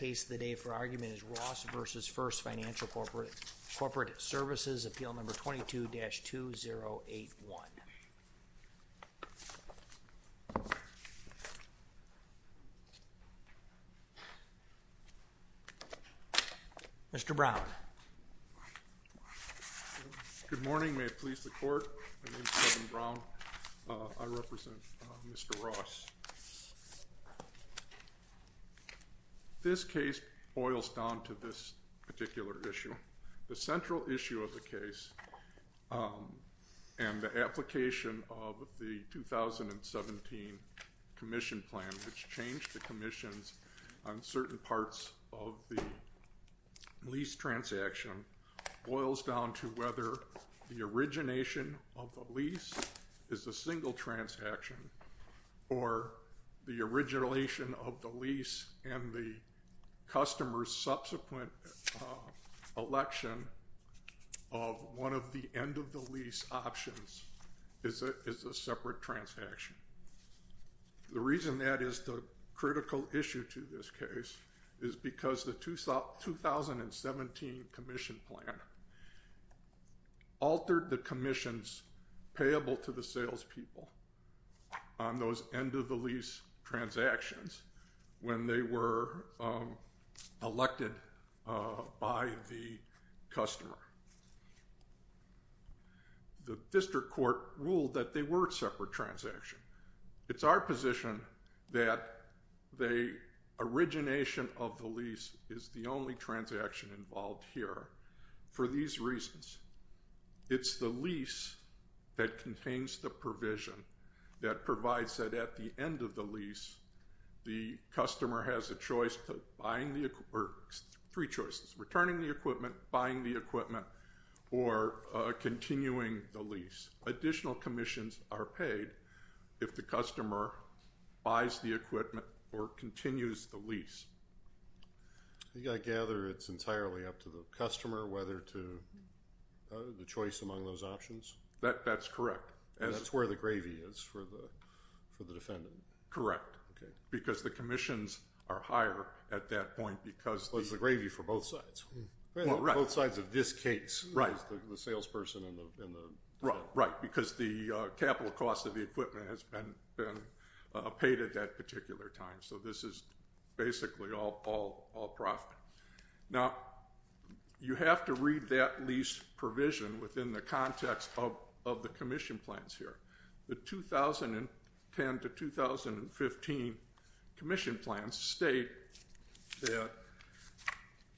is Ross v. First Financial Corporate Services, Appeal No. 22-2081. Mr. Brown. Good morning. May it please the Court, my name is Kevin Brown. I represent Mr. Ross. This case boils down to this particular issue. The central issue of the case and the application of the 2017 Commission Plan, which changed the commissions on certain parts of the lease transaction, boils down to whether the origination of the lease is a single transaction or the origination of the lease and the customer's subsequent election of one of the end-of-the-lease options is a separate transaction. The reason that is the critical issue to this case is because the 2017 Commission Plan altered the commissions payable to the salespeople on those end-of-the-lease transactions when they were elected by the customer. The district court ruled that they were a separate transaction. It's our position that the origination of the lease is the only transaction involved here for these reasons. It's the lease that contains the provision that provides that at the end-of-the-lease, the customer has a choice, three choices, returning the equipment, buying the equipment, or continuing the lease. Additional commissions are paid if the customer buys the equipment or continues the lease. I gather it's entirely up to the customer whether to, the choice among those options? That's correct. And that's where the gravy is for the defendant? Correct. Okay. Because the commissions are higher at that point because... Well, it's the gravy for both sides. Well, right. Both sides of this case. Right. The salesperson and the... Right, because the capital cost of the equipment has been paid at that particular time. So this is basically all profit. Now, you have to read that lease provision within the context of the commission plans here. The 2010 to 2015 commission plans state that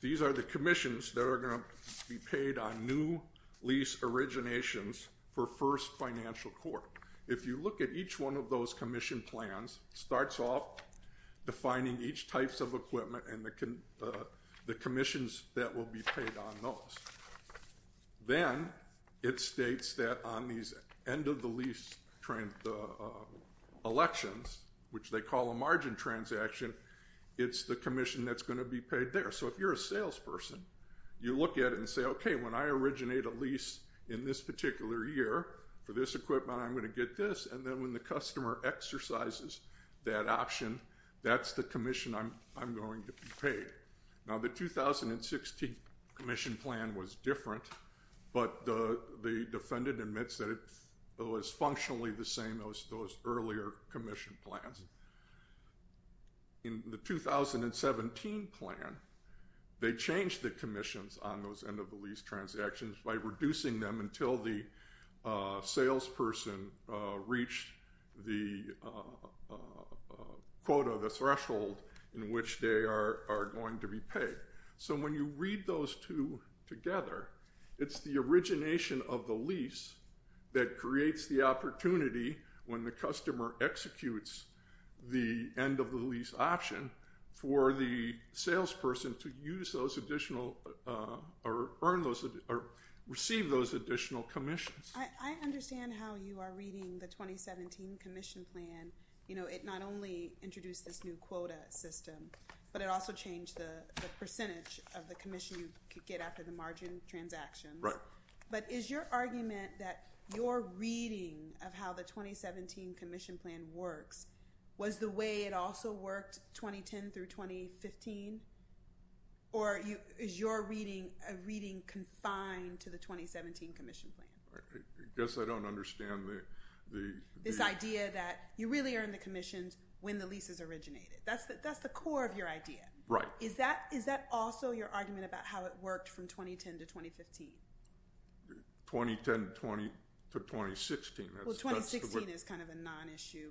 these are the commissions that are going to be paid on new lease originations for first financial court. If you look at each one of those commission plans, it starts off defining each types of equipment and the commissions that will be paid on those. Then it states that on these end of the lease elections, which they call a margin transaction, it's the commission that's going to be paid there. So if you're a salesperson, you look at it and say, okay, when I originate a lease in this particular year for this equipment, I'm going to get this. And then when the customer exercises that option, that's the commission I'm going to be paid. Now, the 2016 commission plan was different, but the defendant admits that it was functionally the same as those earlier commission plans. In the 2017 plan, they changed the commissions on those end of the lease transactions by reducing them until the salesperson reached the quota, the threshold in which they are going to be paid. So when you read those two together, it's the origination of the lease that creates the opportunity when the customer executes the end of the lease option for the salesperson to use those additional or receive those additional commissions. I understand how you are reading the 2017 commission plan. You know, it not only introduced this new quota system, but it also changed the percentage of the commission you could get after the margin transaction. Right. But is your argument that your reading of how the 2017 commission plan works was the way it also worked 2010 through 2015? Or is your reading a reading confined to the 2017 commission plan? I guess I don't understand the... This idea that you really earn the commissions when the lease is originated. That's the core of your idea. Right. Is that also your argument about how it worked from 2010 to 2015? 2010 to 2016. Well, 2016 is kind of a non-issue.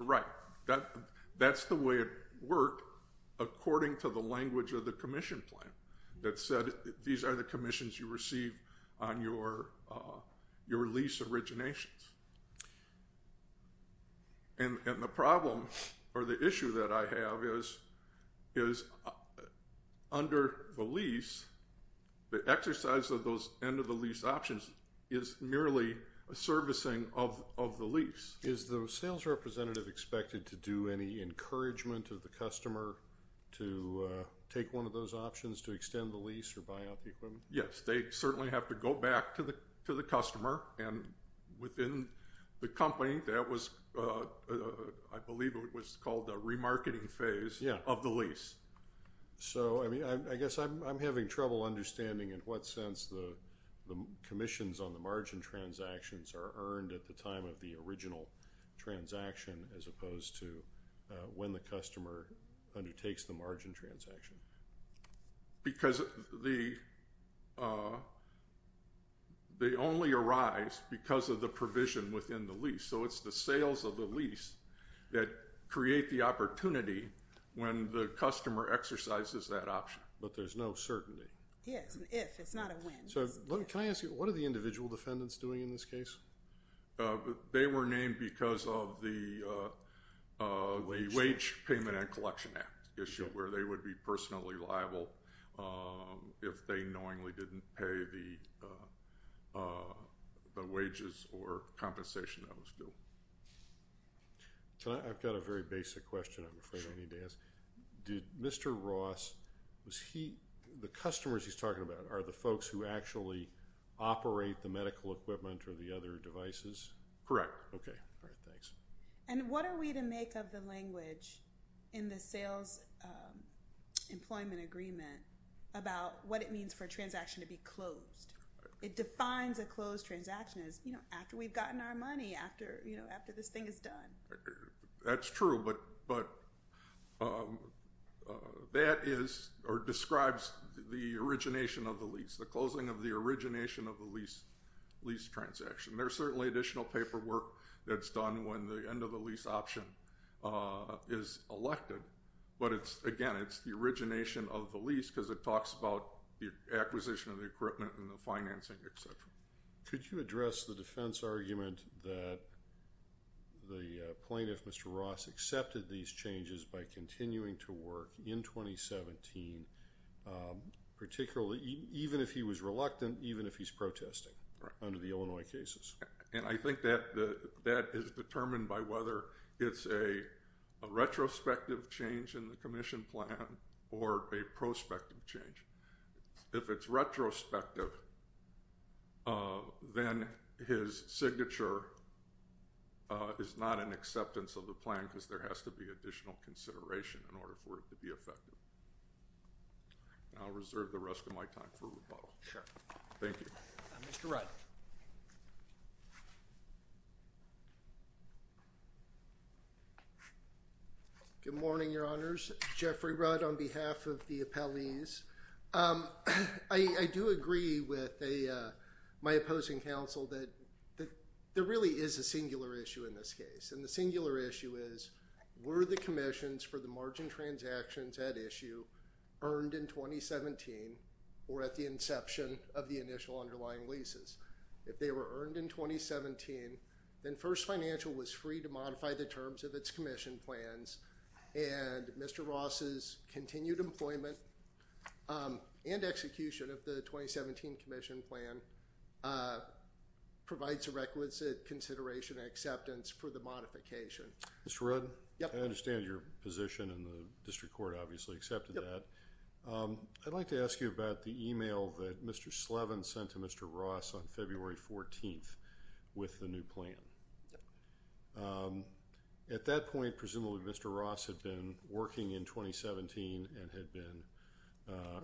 Right. That's the way it worked according to the language of the commission plan that said these are the commissions you receive on your lease originations. And the problem or the issue that I have is under the lease, the exercise of those end of the lease options is merely a servicing of the lease. Is the sales representative expected to do any encouragement of the customer to take one of those options to extend the lease or buy out the equipment? Yes. They certainly have to go back to the customer and within the company that was, I believe it was called the remarketing phase of the lease. So, I mean, I guess I'm having trouble understanding in what sense the commissions on the margin transactions are earned at the time of the original transaction as opposed to when the customer undertakes the margin transaction. Because they only arise because of the provision within the lease. So, it's the sales of the lease that create the opportunity when the customer exercises that option. But there's no certainty. Yes. If. It's not a when. So, can I ask you, what are the individual defendants doing in this case? They were named because of the wage payment and collection act issue where they would be personally liable if they knowingly didn't pay the wages or compensation that was due. I've got a very basic question I'm afraid I need to ask. Did Mr. Ross, was he, the customers he's talking about are the folks who actually operate the medical equipment or the other devices? Correct. Okay. All right, thanks. And what are we to make of the language in the sales employment agreement about what it means for a transaction to be closed? It defines a closed transaction as, you know, after we've gotten our money, after, you know, after this thing is done. That's true, but that is or describes the origination of the lease. The closing of the origination of the lease transaction. There's certainly additional paperwork that's done when the end of the lease option is elected. But it's, again, it's the origination of the lease because it talks about the acquisition of the equipment and the financing, et cetera. Could you address the defense argument that the plaintiff, Mr. Ross, accepted these changes by continuing to work in 2017, particularly even if he was reluctant, even if he's protesting under the Illinois cases? And I think that that is determined by whether it's a retrospective change in the commission plan or a prospective change. If it's retrospective, then his signature is not an acceptance of the plan because there has to be additional consideration in order for it to be effective. And I'll reserve the rest of my time for rebuttal. Sure. Thank you. Mr. Rudd. Good morning, Your Honors. Jeffrey Rudd on behalf of the appellees. I do agree with my opposing counsel that there really is a singular issue in this case. And the singular issue is were the commissions for the margin transactions at issue earned in 2017 or at the inception of the initial underlying leases? If they were earned in 2017, then First Financial was free to modify the terms of its commission plans. And Mr. Ross's continued employment and execution of the 2017 commission plan provides a requisite consideration and acceptance for the modification. Mr. Rudd. Yep. I understand your position and the district court obviously accepted that. Yep. I'd like to ask you about the email that Mr. Slevin sent to Mr. Ross on February 14th with the new plan. Yep. At that point, presumably Mr. Ross had been working in 2017 and had been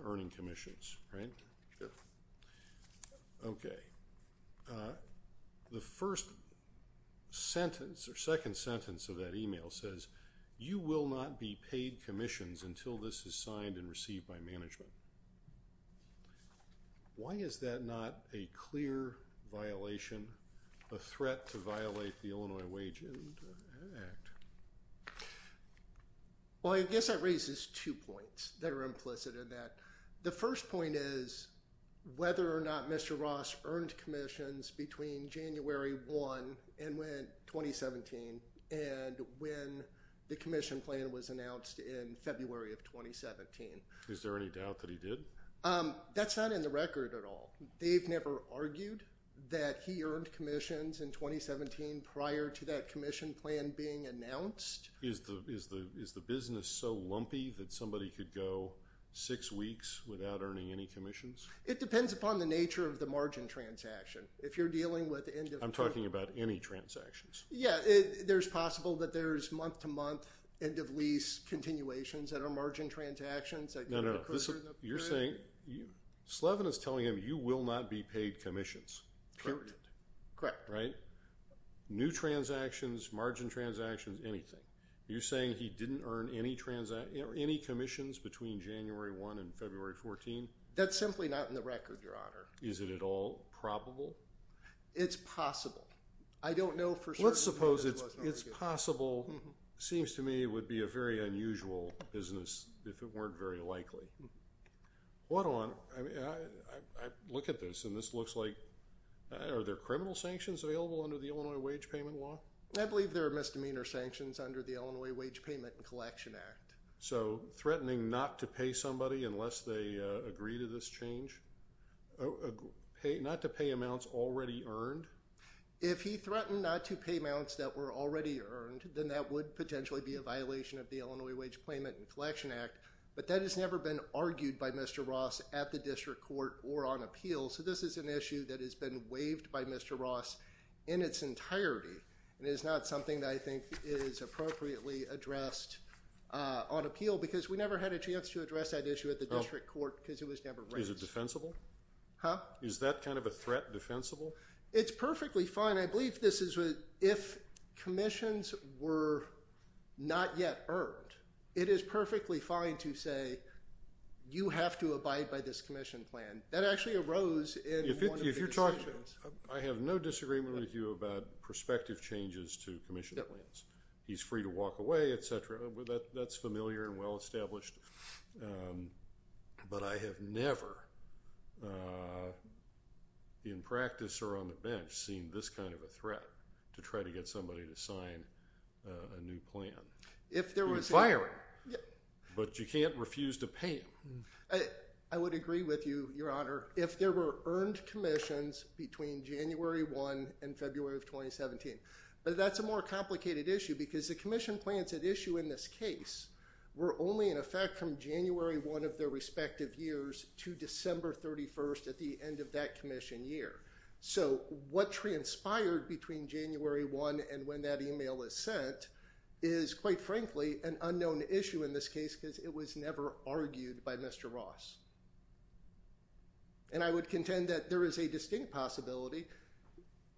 earning commissions, right? Yep. Okay. The first sentence or second sentence of that email says, you will not be paid commissions until this is signed and received by management. Why is that not a clear violation, a threat to violate the Illinois Wage Act? Well, I guess that raises two points that are implicit in that. The first point is whether or not Mr. Ross earned commissions between January 1 and 2017 and when the commission plan was announced in February of 2017. Is there any doubt that he did? That's not in the record at all. They've never argued that he earned commissions in 2017 prior to that commission plan being announced. Is the business so lumpy that somebody could go six weeks without earning any commissions? It depends upon the nature of the margin transaction. I'm talking about any transactions. Yeah. There's possible that there's month-to-month end-of-lease continuations that are margin transactions. No, no. You're saying, Slevin is telling him you will not be paid commissions. Correct. Correct. Right? New transactions, margin transactions, anything. You're saying he didn't earn any commissions between January 1 and February 14? That's simply not in the record, Your Honor. Is it at all probable? It's possible. I don't know for certain. Let's suppose it's possible. It seems to me it would be a very unusual business if it weren't very likely. Hold on. I look at this and this looks like, are there criminal sanctions available under the Illinois Wage Payment Law? I believe there are misdemeanor sanctions under the Illinois Wage Payment and Collection Act. So, threatening not to pay somebody unless they agree to this change? Not to pay amounts already earned? If he threatened not to pay amounts that were already earned, then that would potentially be a violation of the Illinois Wage Payment and Collection Act. But that has never been argued by Mr. Ross at the district court or on appeal. So, this is an issue that has been waived by Mr. Ross in its entirety. It is not something that I think is appropriately addressed on appeal because we never had a chance to address that issue at the district court because it was never raised. Is it defensible? Huh? Is that kind of a threat defensible? It's perfectly fine. If commissions were not yet earned, it is perfectly fine to say you have to abide by this commission plan. That actually arose in one of the decisions. I have no disagreement with you about prospective changes to commission plans. He's free to walk away, etc. That's familiar and well established. But I have never, in practice or on the bench, seen this kind of a threat to try to get somebody to sign a new plan. You can fire him, but you can't refuse to pay him. I would agree with you, Your Honor. If there were earned commissions between January 1 and February of 2017. But that's a more complicated issue because the commission plans at issue in this case were only in effect from January 1 of their respective years to December 31 at the end of that commission year. So, what transpired between January 1 and when that email is sent is, quite frankly, an unknown issue in this case because it was never argued by Mr. Ross. And I would contend that there is a distinct possibility.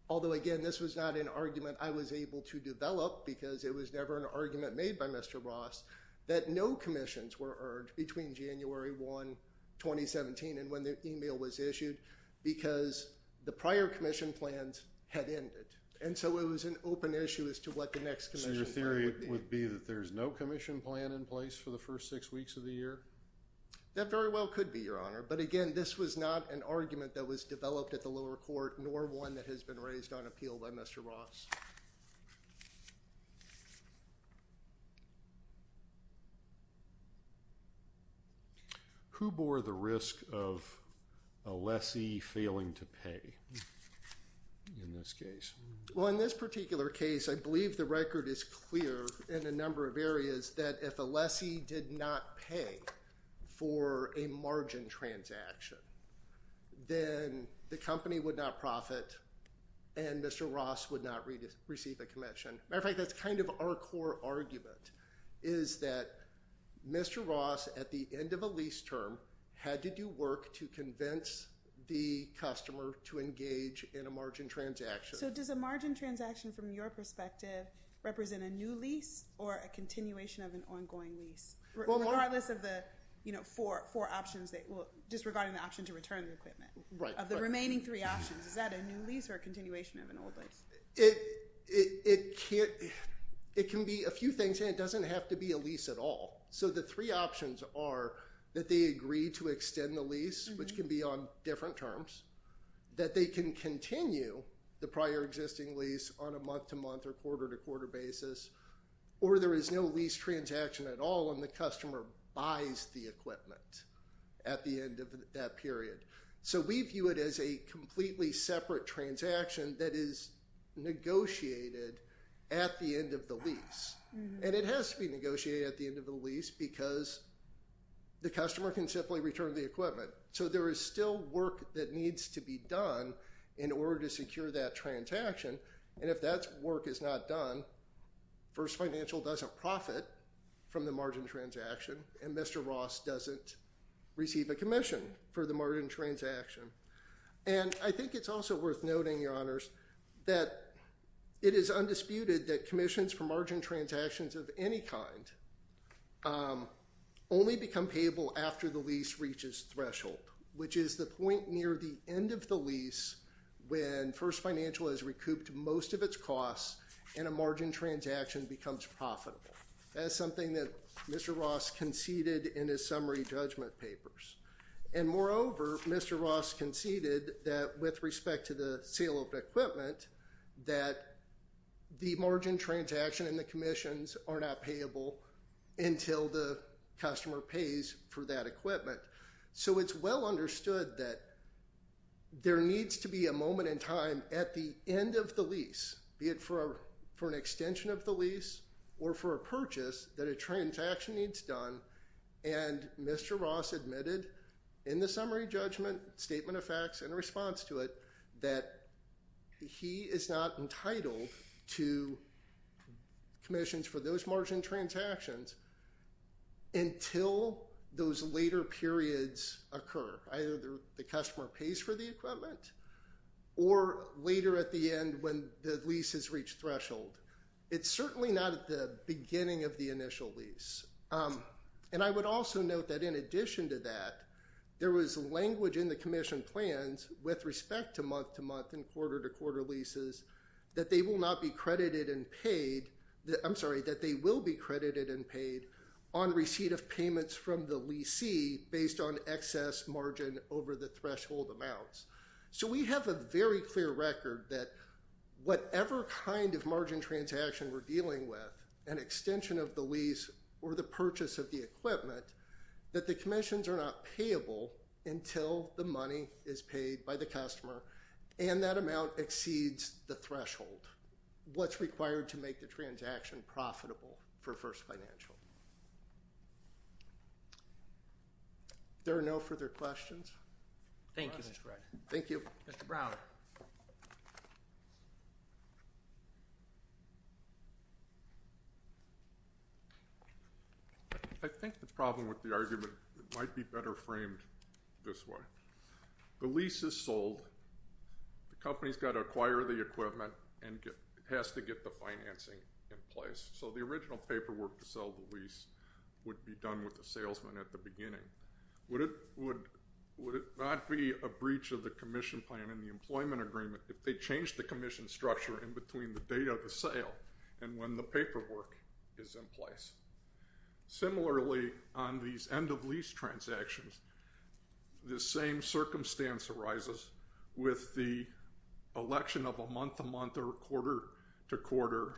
Although, again, this was not an argument I was able to develop because it was never an argument made by Mr. Ross that no commissions were earned between January 1, 2017 and when the email was issued because the prior commission plans had ended. And so, it was an open issue as to what the next commission plan would be. So, your theory would be that there's no commission plan in place for the first six weeks of the year? That very well could be, Your Honor. But, again, this was not an argument that was developed at the lower court nor one that has been raised on appeal by Mr. Ross. Who bore the risk of a lessee failing to pay in this case? Well, in this particular case, I believe the record is clear in a number of areas that if a lessee did not pay for a margin transaction, then the company would not profit and Mr. Ross would not receive a commission. Matter of fact, that's kind of our core argument is that Mr. Ross, at the end of a lease term, had to do work to convince the customer to engage in a margin transaction. So, does a margin transaction, from your perspective, represent a new lease or a continuation of an ongoing lease? Regardless of the four options, just regarding the option to return the equipment. Right. Of the remaining three options, is that a new lease or a continuation of an old lease? It can be a few things and it doesn't have to be a lease at all. So, the three options are that they agree to extend the lease, which can be on different terms, that they can continue the prior existing lease on a month-to-month or quarter-to-quarter basis, or there is no lease transaction at all and the customer buys the equipment at the end of that period. So, we view it as a completely separate transaction that is negotiated at the end of the lease. And it has to be negotiated at the end of the lease because the customer can simply return the equipment. So, there is still work that needs to be done in order to secure that transaction. And if that work is not done, First Financial doesn't profit from the margin transaction and Mr. Ross doesn't receive a commission for the margin transaction. And I think it's also worth noting, Your Honors, that it is undisputed that commissions for margin transactions of any kind only become payable after the lease reaches threshold, which is the point near the end of the lease when First Financial has recouped most of its costs and a margin transaction becomes profitable. That is something that Mr. Ross conceded in his summary judgment papers. And moreover, Mr. Ross conceded that with respect to the sale of equipment, that the margin transaction and the commissions are not payable until the customer pays for that equipment. So, it's well understood that there needs to be a moment in time at the end of the lease, be it for an extension of the lease or for a purchase, that a transaction needs done. And Mr. Ross admitted in the summary judgment statement of facts in response to it that he is not entitled to commissions for those margin transactions until those later periods occur. Either the customer pays for the equipment or later at the end when the lease has reached threshold. It's certainly not at the beginning of the initial lease. And I would also note that in addition to that, there was language in the commission plans with respect to month-to-month and quarter-to-quarter leases that they will not be credited and paid. I'm sorry, that they will be credited and paid on receipt of payments from the leasee based on excess margin over the threshold amounts. So, we have a very clear record that whatever kind of margin transaction we're dealing with, an extension of the lease or the purchase of the equipment, that the commissions are not payable until the money is paid by the customer and that amount exceeds the threshold, what's required to make the transaction profitable for First Financial. There are no further questions? Thank you, Mr. Brad. Thank you. Mr. Browder. I think the problem with the argument might be better framed this way. The lease is sold. The company's got to acquire the equipment and has to get the financing in place. So, the original paperwork to sell the lease would be done with the salesman at the beginning. Would it not be a breach of the commission plan and the employment agreement if they changed the commission structure in between the date of the sale and when the paperwork is in place? Similarly, on these end-of-lease transactions, the same circumstance arises with the election of a month-to-month or quarter-to-quarter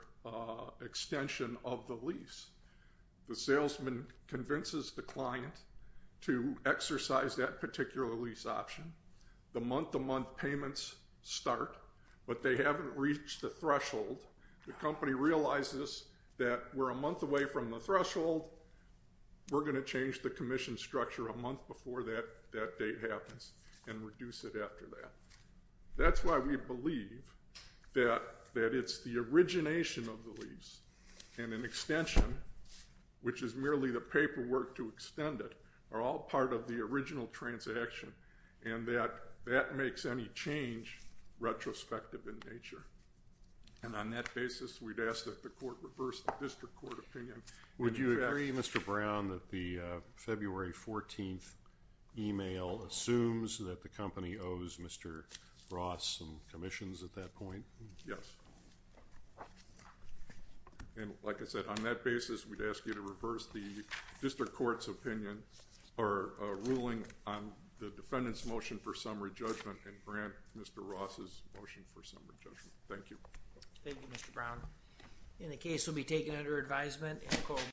extension of the lease. The salesman convinces the client to exercise that particular lease option. The month-to-month payments start, but they haven't reached the threshold. The company realizes that we're a month away from the threshold. We're going to change the commission structure a month before that date happens and reduce it after that. That's why we believe that it's the origination of the lease and an extension, which is merely the paperwork to extend it, are all part of the original transaction and that that makes any change retrospective in nature. And on that basis, we'd ask that the court reverse the district court opinion. Would you agree, Mr. Brown, that the February 14th email assumes that the company owes Mr. Ross some commissions at that point? Yes. And like I said, on that basis, we'd ask you to reverse the district court's opinion or ruling on the defendant's motion for summary judgment and grant Mr. Ross's motion for summary judgment. Thank you. Thank you, Mr. Brown. And the case will be taken under advisement in the courtroom.